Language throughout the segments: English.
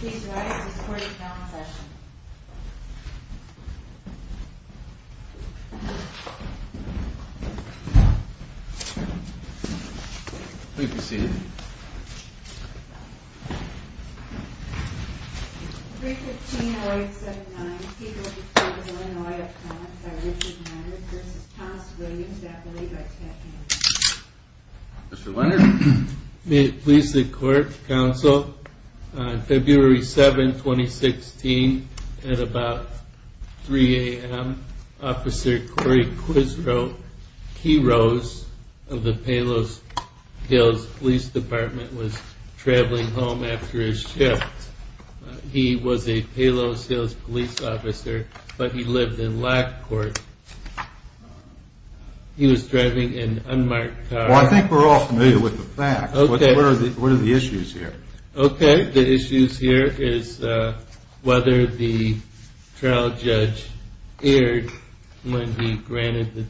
Please rise, this court is now in session. Please be seated. 315-0879, Peter P. Illinois, up front, by Richard Leonard v. Thomas Williams, deputy, by Ted King. Mr. Leonard? Please sit, court, counsel. On February 7, 2016, at about 3 a.m., Officer Corey Quisrow, he rose of the Palos Hills Police Department, was traveling home after his shift. He was a Palos Hills police officer, but he lived in Lac Court. He was driving an unmarked car. Well, I think we're all familiar with the facts. What are the issues here? Okay, the issues here is whether the trial judge erred when he granted the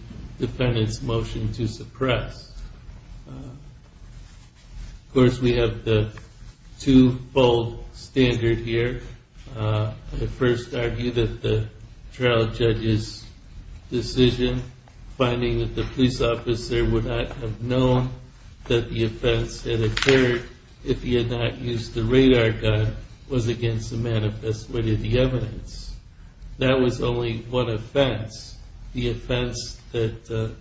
defendant's motion to suppress. Of course, we have the two-fold standard here. The first argued that the trial judge's decision, finding that the police officer would not have known that the offense had occurred if he had not used the radar gun, was against the manifest with the evidence. That was only one offense. The offense that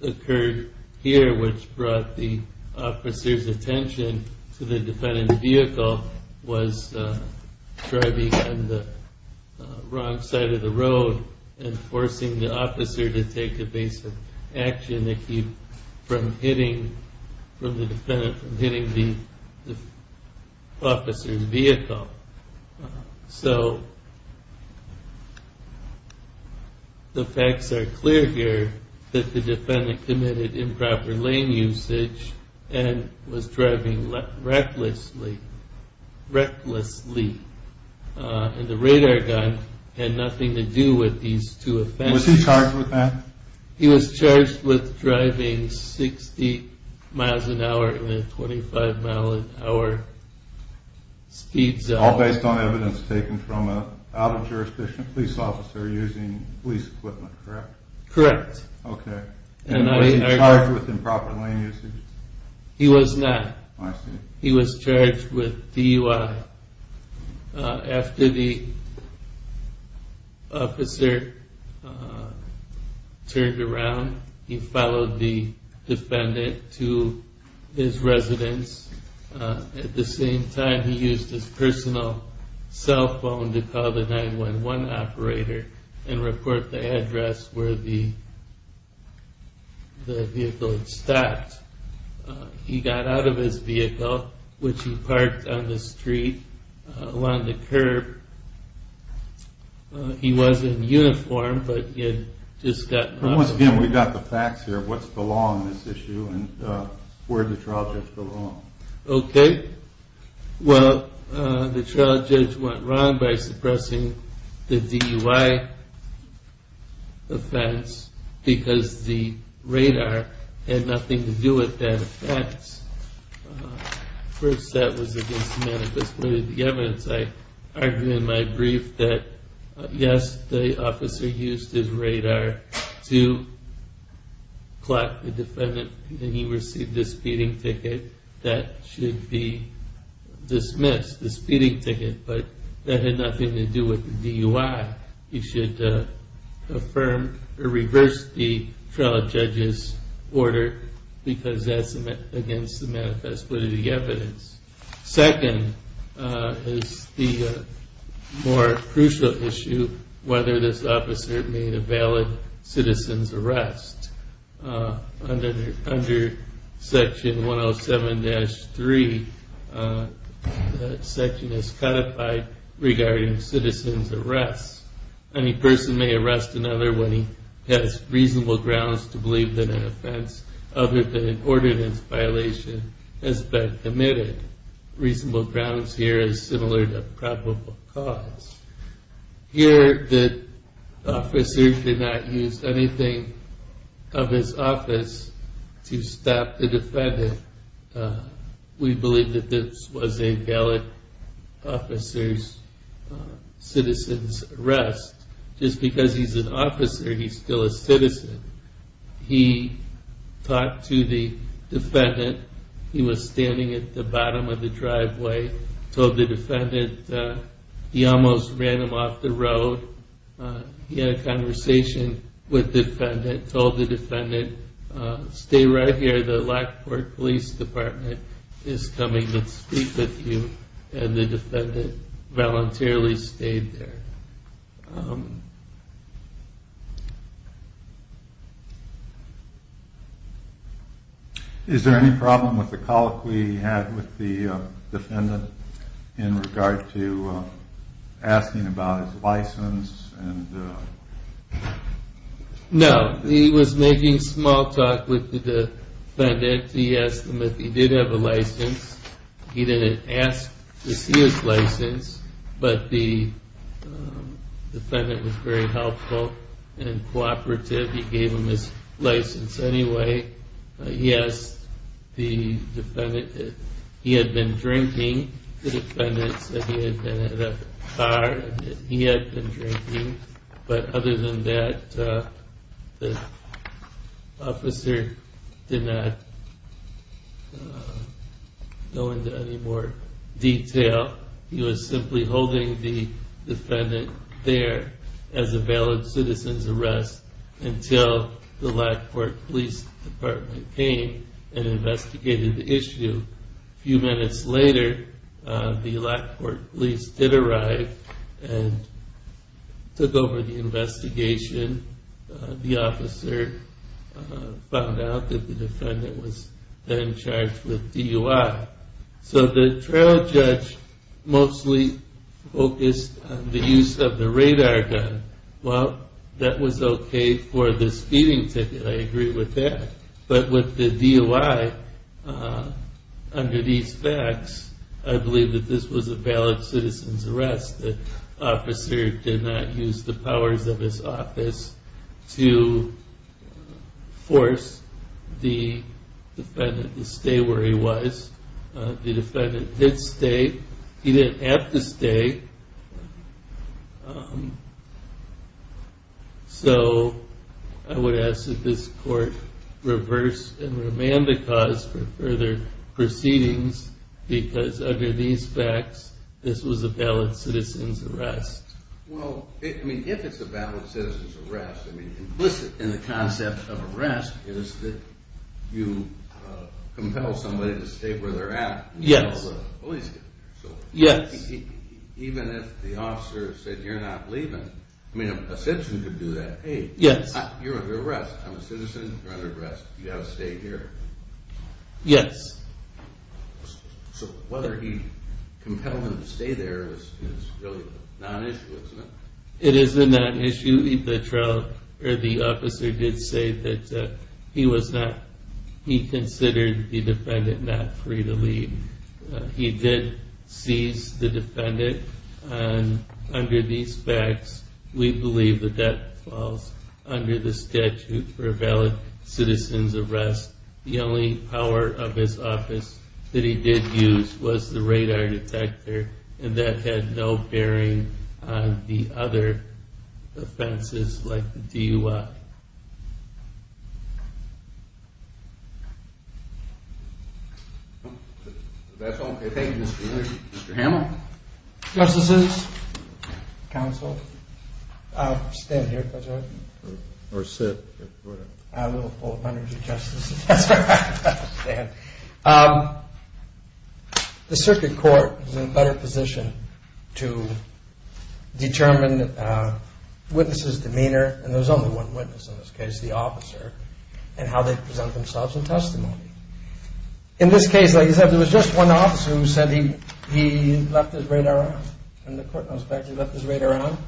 occurred here, which brought the officer's attention to the defendant's vehicle, was driving on the wrong side of the road and forcing the officer to take evasive action from hitting the officer's vehicle. So the facts are clear here that the defendant committed improper lane usage and was driving recklessly, and the radar gun had nothing to do with these two offenses. Was he charged with that? He was charged with driving 60 miles an hour at a 25 mile an hour speed zone. All based on evidence taken from an out-of-jurisdiction police officer using police equipment, correct? Correct. Okay. And was he charged with improper lane usage? He was not. I see. He was charged with DUI. After the officer turned around, he followed the defendant to his residence. At the same time, he used his personal cell phone to call the 911 operator and report the address where the vehicle had stopped. He got out of his vehicle, which he parked on the street along the curb. He was in uniform, but he had just gotten out. Once again, we've got the facts here. What's the law on this issue and where did the trial judge go wrong? Okay. Well, the trial judge went wrong by suppressing the DUI offense because the radar had nothing to do with that offense. First, that was against the manifest way of the evidence. I argued in my brief that, yes, the officer used his radar to clock the defendant, and he received this speeding ticket that should be dismissed, this speeding ticket, but that had nothing to do with the DUI. He should affirm or reverse the trial judge's order because that's against the manifest way of the evidence. Second is the more crucial issue, whether this officer made a valid citizen's arrest under Section 107-3. That section is codified regarding citizen's arrest. Any person may arrest another when he has reasonable grounds to believe that an offense other than an ordinance violation has been committed. Reasonable grounds here is similar to probable cause. Here the officer did not use anything of his office to stop the defendant. We believe that this was a valid officer's citizen's arrest. Just because he's an officer, he's still a citizen. He talked to the defendant. He told the defendant he almost ran him off the road. He had a conversation with the defendant, told the defendant, stay right here, the Lackport Police Department is coming to speak with you, and the defendant voluntarily stayed there. Is there any problem with the colloquy he had with the defendant in regard to asking about his license? No, he was making small talk with the defendant. He asked him if he did have a license. He didn't ask to see his license, but the defendant was very helpful and cooperative. He gave him his license anyway. Yes, he had been drinking. The defendant said he had been in a car and he had been drinking. But other than that, the officer did not go into any more detail. He was simply holding the defendant there as a valid citizen's arrest until the Lackport Police Department came and investigated the issue. A few minutes later, the Lackport police did arrive and took over the investigation. The officer found out that the defendant was then charged with DUI. So the trial judge mostly focused on the use of the radar gun. Well, that was okay for the speeding ticket. I agree with that. But with the DUI, under these facts, I believe that this was a valid citizen's arrest. The officer did not use the powers of his office to force the defendant to stay where he was. The defendant did stay. He didn't have to stay. So I would ask that this court reverse and remand the cause for further proceedings because under these facts, this was a valid citizen's arrest. Well, if it's a valid citizen's arrest, implicit in the concept of arrest is that you compel somebody to stay where they're at until the police get there. Yes. Even if the officer said, you're not leaving, I mean a citizen could do that. Hey, you're under arrest. I'm a citizen. You're under arrest. You've got to stay here. Yes. So whether he compelled him to stay there is really not an issue, isn't it? It is not an issue. he considered the defendant not free to leave. He did seize the defendant. Under these facts, we believe that that falls under the statute for a valid citizen's arrest. The only power of his office that he did use was the radar detector, and that had no bearing on the other offenses like the DUI. That's all. Thank you, Mr. Ealy. Mr. Hamel. Justices, counsel, I'll stand here if that's all right. Or sit, whatever. I'm a little full of energy, Justices. That's all right. I'll stand. The circuit court is in a better position to determine witnesses' demeanor, and there's only one witness in this case, the officer, and how they present themselves in testimony. In this case, like I said, there was just one officer who said he left his radar on. From the court's perspective, he left his radar on.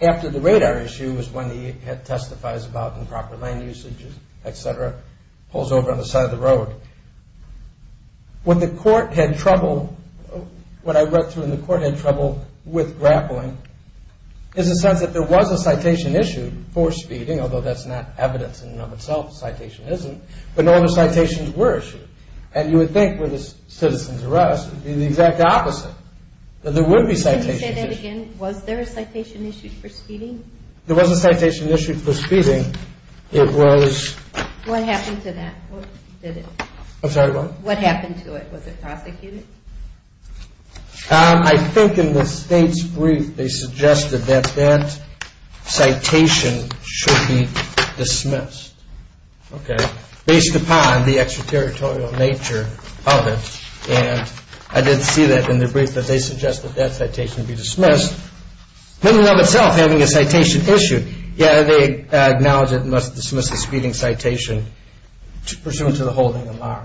After the radar issue is when he testifies about improper land usages, etc., pulls over on the side of the road. When the court had trouble, what I read through in the court had trouble with grappling is the sense that there was a citation issued for speeding, although that's not evidence in and of itself. The citation isn't. But all the citations were issued, and you would think with a citizen's arrest it would be the exact opposite. There would be citations issued. Can you say that again? Was there a citation issued for speeding? There was a citation issued for speeding. It was... What happened to that? I'm sorry, what? What happened to it? Was it prosecuted? I think in the state's brief, they suggested that that citation should be dismissed. Okay. Based upon the extraterritorial nature of it. And I did see that in the brief that they suggested that that citation be dismissed, in and of itself having a citation issued. Yet they acknowledge it must dismiss the speeding citation pursuant to the holding in law.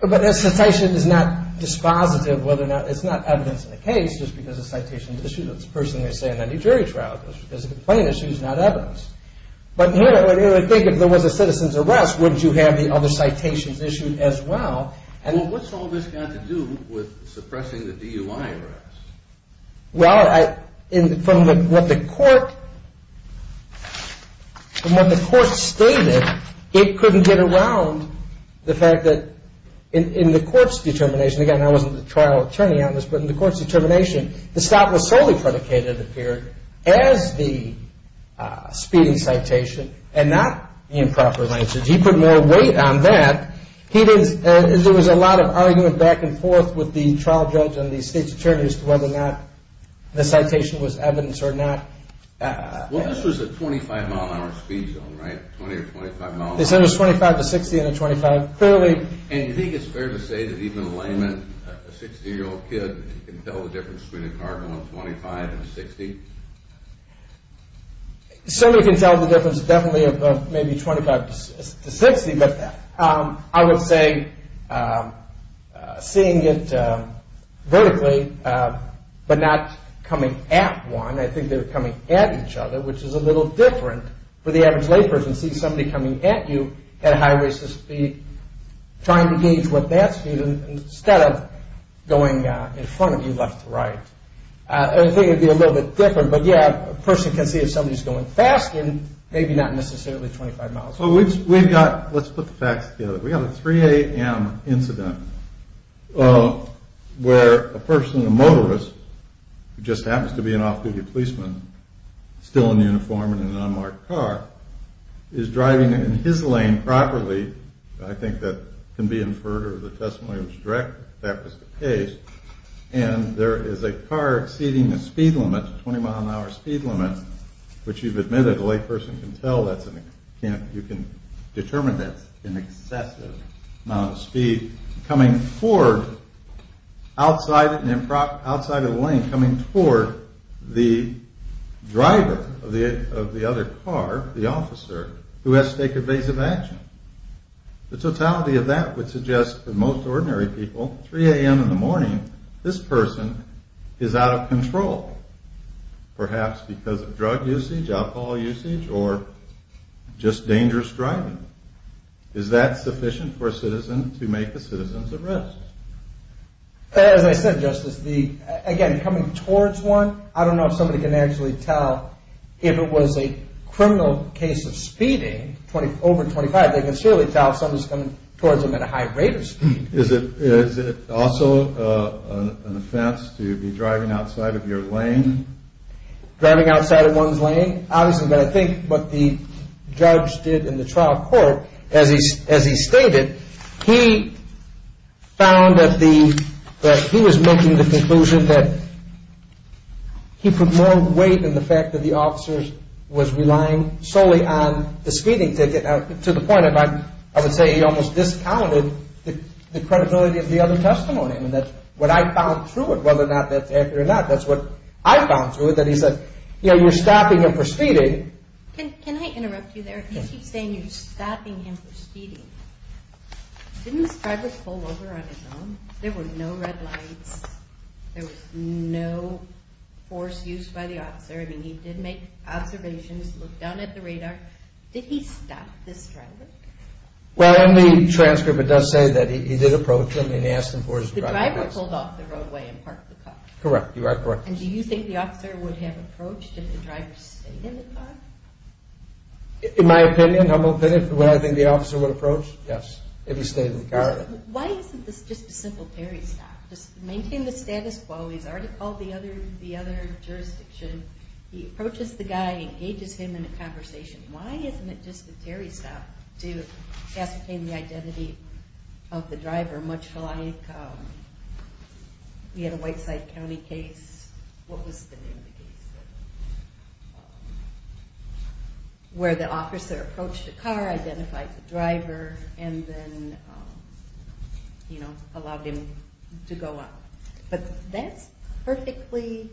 But that citation is not dispositive of whether or not... It's not evidence in the case, just because a citation is issued. That's the first thing they say in any jury trial, is a complaint issued, not evidence. But here they think if there was a citizen's arrest, wouldn't you have the other citations issued as well? Well, what's all this got to do with suppressing the DUI arrest? Well, from what the court stated, it couldn't get around the fact that in the court's determination... Again, I wasn't the trial attorney on this, but in the court's determination, the stop was solely predicated, it appeared, as the speeding citation and not the improper language. He put more weight on that. He didn't... There was a lot of argument back and forth with the trial judge and the state's attorneys as to whether or not the citation was evidence or not. Well, this was a 25 mile an hour speed zone, right? 20 or 25 mile an hour. They said it was 25 to 60 in a 25. Clearly... And you think it's fair to say that even a layman, a 60-year-old kid can tell the difference between a car going 25 and a 60? Somebody can tell the difference definitely of maybe 25 to 60, but I would say seeing it vertically, but not coming at one... I think they were coming at each other, which is a little different for the average layperson, seeing somebody coming at you at a high rate of speed, trying to gauge what that speed is instead of going in front of you left to right. I think it would be a little bit different, but yeah, a person can see if somebody's going fast and maybe not necessarily 25 miles an hour. Let's put the facts together. We have a 3 a.m. incident where a person, a motorist, who just happens to be an off-duty policeman, still in uniform and in an unmarked car, is driving in his lane properly. I think that can be inferred from the testimony that was directed. In fact, it was the case. And there is a car exceeding the speed limit, the 20-mile-an-hour speed limit, which you've admitted a layperson can tell you can determine that's an excessive amount of speed, coming forward outside of the lane, coming toward the driver of the other car, the officer, who has to take evasive action. The totality of that would suggest that most ordinary people, 3 a.m. in the morning, this person is out of control, perhaps because of drug usage, alcohol usage, or just dangerous driving. Is that sufficient for a citizen to make a citizen's arrest? As I said, Justice, again, coming towards one, I don't know if somebody can actually tell if it was a criminal case of speeding over 25, but they can surely tell if somebody is coming towards them at a high rate of speed. Is it also an offense to be driving outside of your lane? Driving outside of one's lane? Obviously, but I think what the judge did in the trial court, as he stated, he found that he was making the conclusion that he put more weight in the fact that the officer was relying solely on the speeding ticket, to the point of, I would say, he almost discounted the credibility of the other testimony. And that's what I found through it, whether or not that's accurate or not. That's what I found through it, that he said, you know, you're stopping him for speeding. Can I interrupt you there? He keeps saying you're stopping him for speeding. Didn't this driver pull over on his own? There were no red lights. There was no force used by the officer. I mean, he did make observations, looked down at the radar. Did he stop this driver? Well, in the transcript, it does say that he did approach him and he asked him for his driver's license. The driver pulled off the roadway and parked the car? Correct, you are correct. And do you think the officer would have approached if the driver stayed in the car? In my opinion, humble opinion, would I think the officer would approach? Yes, if he stayed in the car. Why isn't this just a simple parry stop? Just maintain the status quo. He's already called the other jurisdiction. He approaches the guy, engages him in a conversation. Why isn't it just a parry stop to ascertain the identity of the driver, much like we had a Whiteside County case. What was the name of the case? Where the officer approached the car, identified the driver, and then, you know, allowed him to go out. But that's perfectly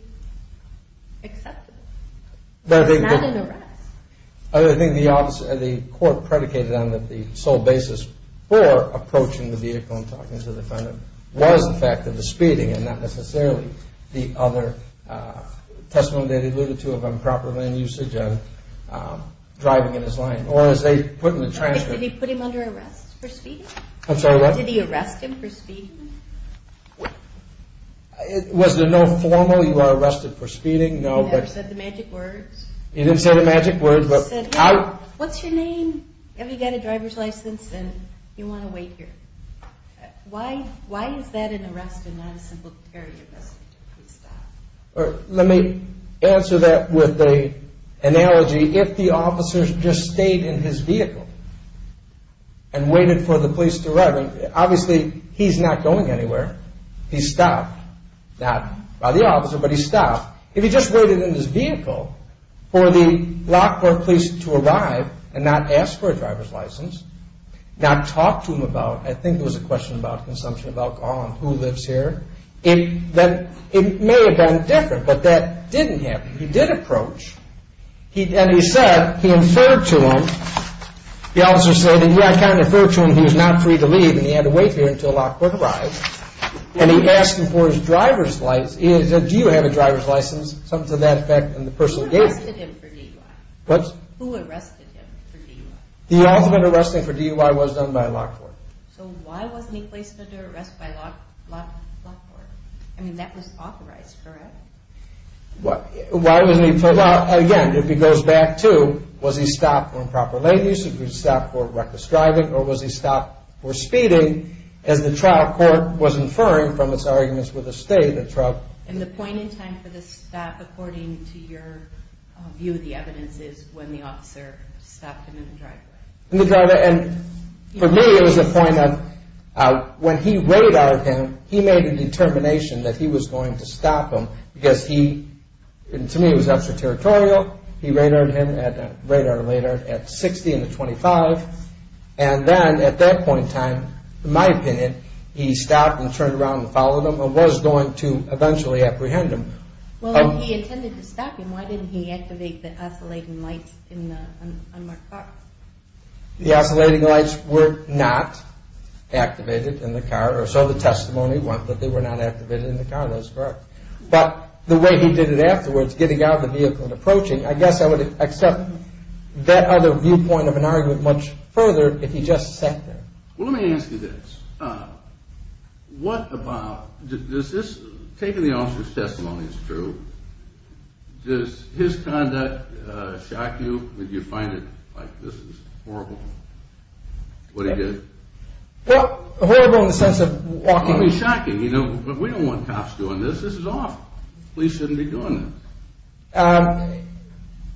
acceptable. It's not an arrest. I think the court predicated on the sole basis for approaching the vehicle and talking to the defendant was the fact that the speeding and not necessarily the other testimony that it alluded to of improper land usage and driving in his lane. Or as they put in the transcript... Did he put him under arrest for speeding? I'm sorry, what? Did he arrest him for speeding? Was there no formal, you are arrested for speeding? No. He never said the magic words? He didn't say the magic words. What's your name? Have you got a driver's license? Do you want to wait here? Why is that an arrest and not a simple parry arrest? Let me answer that with an analogy. If the officer just stayed in his vehicle and waited for the police to arrive, obviously he's not going anywhere. He's stopped. Not by the officer, but he's stopped. If he just waited in his vehicle for the Lockport police to arrive and not ask for a driver's license, not talk to him about, I think it was a question about consumption of alcohol and who lives here, it may have been different, but that didn't happen. He did approach, and he said, he inferred to him, the officer said, yeah, I kind of inferred to him he was not free to leave and he had to wait here until Lockport arrived, and he asked him for his driver's license. He said, do you have a driver's license? Something to that effect, and the person gave it to him. Who arrested him for DUI? The ultimate arresting for DUI was done by Lockport. So why wasn't he placed under arrest by Lockport? I mean, that was authorized, correct? Again, if he goes back to, was he stopped for improper lane use, was he stopped for reckless driving, or was he stopped for speeding? As the trial court was inferring from its arguments with the state, the trial court... And the point in time for the stop, according to your view of the evidence, is when the officer stopped him in the driveway. In the driveway, and for me it was a point of, when he radared him, he made a determination that he was going to stop him because he, and to me it was extraterritorial, he radared him, radar or laydard, at 60 in the 25, and then at that point in time, in my opinion, he stopped and turned around and followed him and was going to eventually apprehend him. Well, if he intended to stop him, why didn't he activate the oscillating lights in the unmarked car? The oscillating lights were not activated in the car, or so the testimony went, that they were not activated in the car. That's correct. But the way he did it afterwards, getting out of the vehicle and approaching, I guess I would accept that other viewpoint of an argument much further if he just sat there. Well, let me ask you this. What about, does this, taking the officer's testimony as true, does his conduct shock you? Do you find it like, this is horrible, what he did? Well, horrible in the sense of walking. Well, it would be shocking, you know, but we don't want cops doing this, this is awful. Police shouldn't be doing this.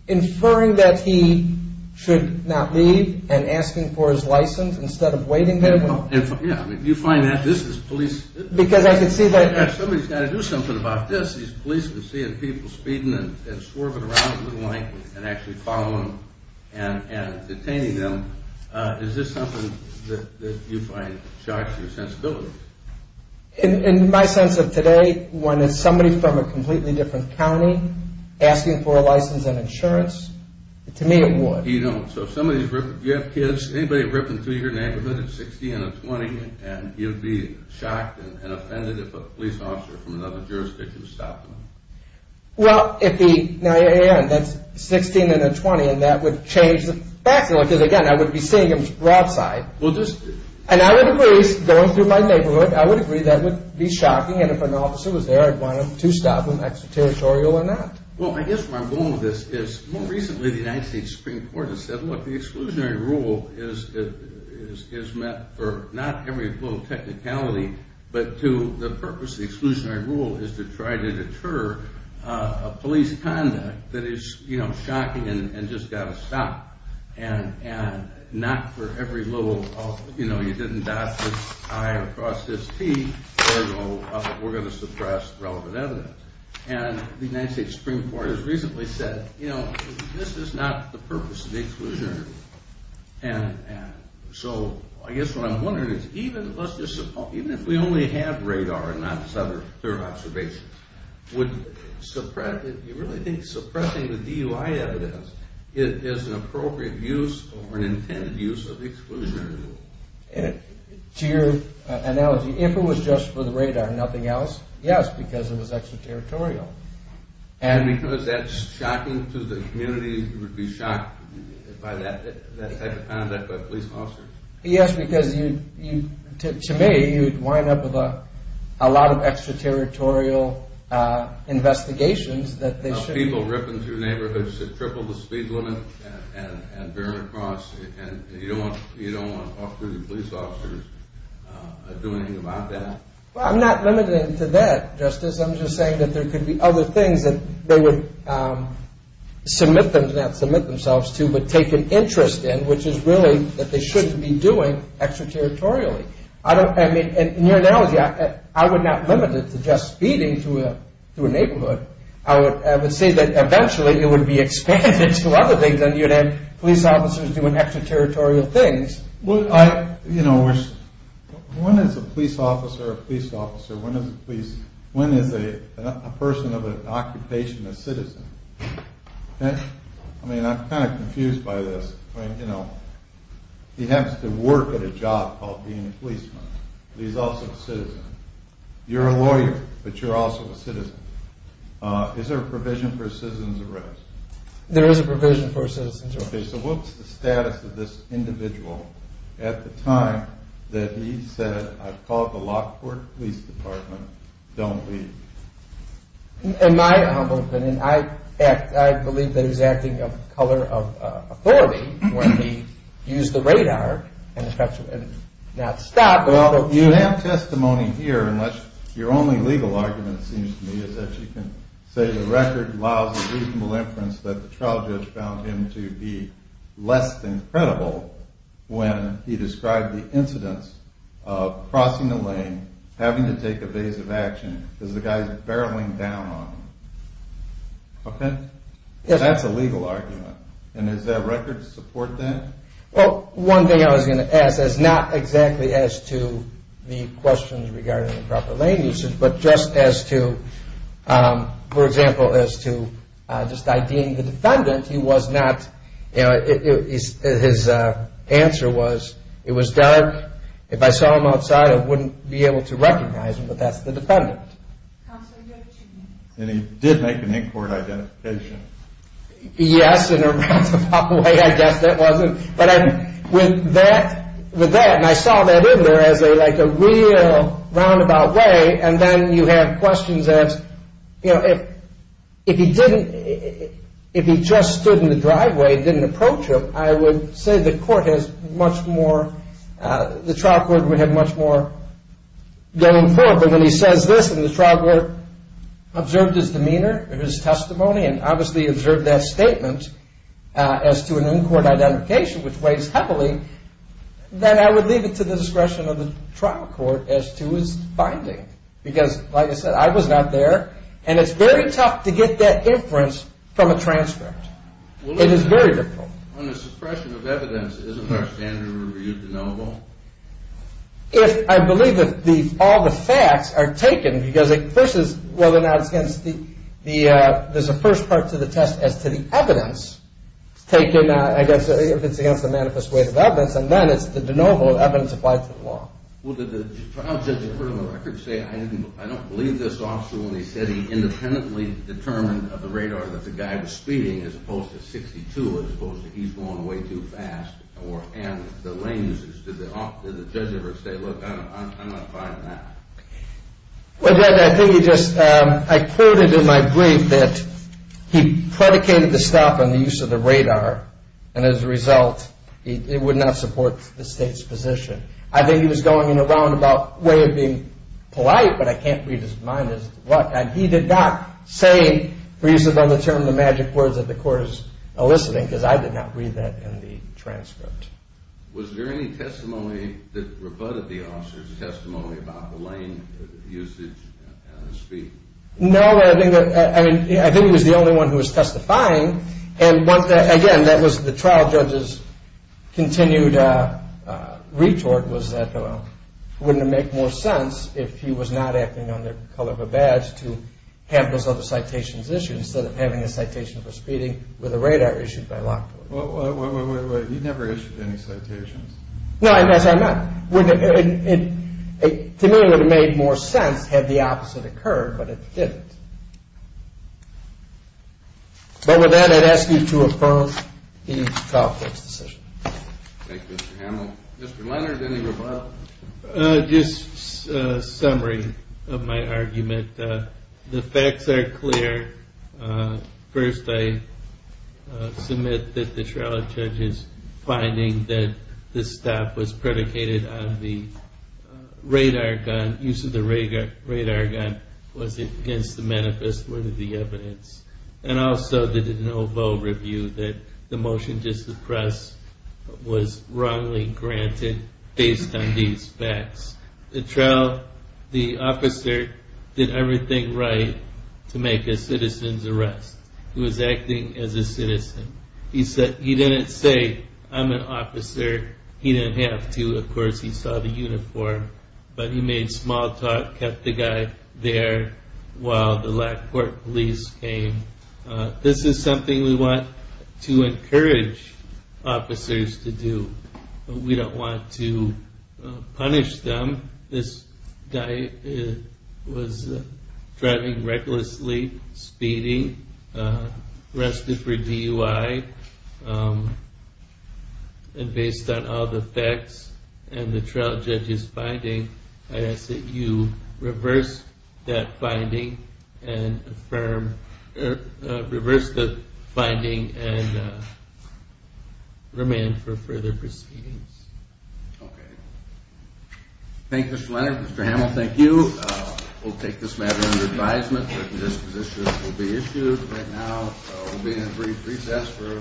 Inferring that he should not leave and asking for his license instead of waiting there. Yeah, you find that, this is police... Because I can see that... If somebody's got to do something about this, these police can see people speeding and swerving around the little lane and actually following them and detaining them. Is this something that you find shocks your sensibility? In my sense of today, when it's somebody from a completely different county asking for a license and insurance, to me it would. You don't. So if somebody's ripping... Do you have kids? Anybody ripping through your neighborhood at 16 and a 20 and you'd be shocked and offended if a police officer from another jurisdiction stopped them? Well, if he... Now, Aaron, that's 16 and a 20 and that would change the facts because, again, I would be seeing him broadside. And I would agree, going through my neighborhood, I would agree that would be shocking and if an officer was there I'd want him to stop him, extraterritorial or not. Well, I guess where I'm going with this is more recently the United States Supreme Court has said, look, the exclusionary rule is meant for not every little technicality but to the purpose of the exclusionary rule is to try to deter a police conduct that is shocking and just got to stop and not for every little... You know, you didn't dot this I or cross this T or we're going to suppress relevant evidence. And the United States Supreme Court has recently said, you know, this is not the purpose of the exclusionary rule. And so, I guess what I'm wondering is even if we only have radar and not other observations, would suppress it? Do you really think suppressing the DUI evidence is an appropriate use or an intended use of the exclusionary rule? To your analogy, if it was just for the radar and nothing else, yes, because it was extraterritorial. And because that's shocking to the community, you would be shocked by that type of conduct by police officers. Yes, because you, to me, you'd wind up with a lot of extraterritorial investigations that they should be... People ripping through neighborhoods that triple the speed limit and veering across and you don't want off-duty police officers doing anything about that. Well, I'm not limited to that, Justice. I'm just saying that there could be other things that they would submit them to, not submit themselves to, but take an interest in, which is really that they shouldn't be doing extraterritorially. I mean, in your analogy, I would not limit it to just speeding through a neighborhood. I would say that eventually it would be expanded to other things and you'd have police officers doing extraterritorial things. Well, you know, when is a police officer a police officer? When is a police... When is a person of an occupation a citizen? Okay? I mean, I'm kind of confused by this. I mean, you know, he has to work at a job called being a policeman. He's also a citizen. You're a lawyer, but you're also a citizen. Is there a provision for a citizen's arrest? There is a provision for a citizen's arrest. Okay, so what's the status of this individual at the time that he said, I've called the Lockport Police Department, don't leave? In my humble opinion, I believe that he's acting of the color of authority when he used the radar and not stopped. Well, you have testimony here, unless your only legal argument seems to me is that you can say the record allows a reasonable inference that the trial judge found him to be less than credible when he described the incidents of crossing the lane, having to take evasive action, because the guy's barreling down on him. Okay? Yes. That's a legal argument. And does that record support that? Well, one thing I was going to ask is not exactly as to the questions regarding improper lane usage, but just as to, for example, as to just IDing the defendant, he was not, you know, his answer was, it was dark. If I saw him outside, I wouldn't be able to recognize him, but that's the defendant. And he did make an in-court identification. Yes, in a roundabout way, I guess that was. But with that, and I saw that in there as like a real roundabout way, and then you have questions as, you know, if he didn't, if he just stood in the driveway and didn't approach him, I would say the court has much more, the trial court would have much more going forward. But when he says this and the trial court observed his demeanor, his testimony, and obviously observed that statement as to an in-court identification, which weighs heavily, then I would leave it to the discretion of the trial court as to his finding. Because, like I said, I was not there, and it's very tough to get that inference from a transcript. It is very difficult. On the suppression of evidence, isn't there a standard review to know about? If, I believe that all the facts are taken, versus whether or not it's against the, there's a first part to the test as to the evidence taken, I guess, if it's against the manifest weight of evidence, and then it's the de novo evidence applied to the law. Well, did the trial judge say, I don't believe this officer when he said he independently determined of the radar that the guy was speeding as opposed to 62, as opposed to he's going way too fast, or, and the lenses, did the judge ever say, look, I'm not buying that? Well, I think he just, I quoted in my brief that he predicated the stuff on the use of the radar, and as a result, it would not support the state's position. I think he was going in a roundabout way of being polite, but I can't read his mind as to what, and he did not say, for reasons beyond the term of the magic words that the court is eliciting, because I did not read that in the transcript. Was there any testimony that rebutted the officer's testimony about the lane usage and the speed? No, I think that, I mean, I think he was the only one who was testifying, and once that, again, that was the trial judge's continued retort was that, well, wouldn't it make more sense if he was not acting on the color of a badge to have those other citations issued instead of having a citation for speeding with a radar issued by Lockwood? Well, you never issued any citations. No, as I'm not, wouldn't it, to me, it would have made more sense had the opposite occurred, but it didn't. But with that, I'd ask you to affirm the trial judge's decision. Thank you, Mr. Hamill. Mr. Leonard, any rebuttal? Just a summary of my argument. The facts are clear. First, I submit that the trial judge's finding that this stop was predicated on the radar gun, use of the radar gun was against the manifest word of the evidence. And also, the de novo review that the motion to suppress was wrongly granted based on these facts. The trial, the officer did not do everything right to make a citizen's arrest. He was acting as a citizen. He said, he didn't say, I'm an officer. He didn't have to. Of course, he saw the uniform, but he made small talk, kept the guy there while the Lackport police came. This is something we want to encourage officers to do. We don't want to punish them. This guy was driving recklessly, speeding, arrested for DUI, and based on all the facts and the trial judge's finding, I ask that you reverse that finding and affirm, reverse the finding and remand for further proceedings. Okay. Thank you, Mr. Leonard, Mr. Hamill, thank you. We'll take this matter under advisement that this position will be issued. Right now, we'll be in a brief recess for a penalty.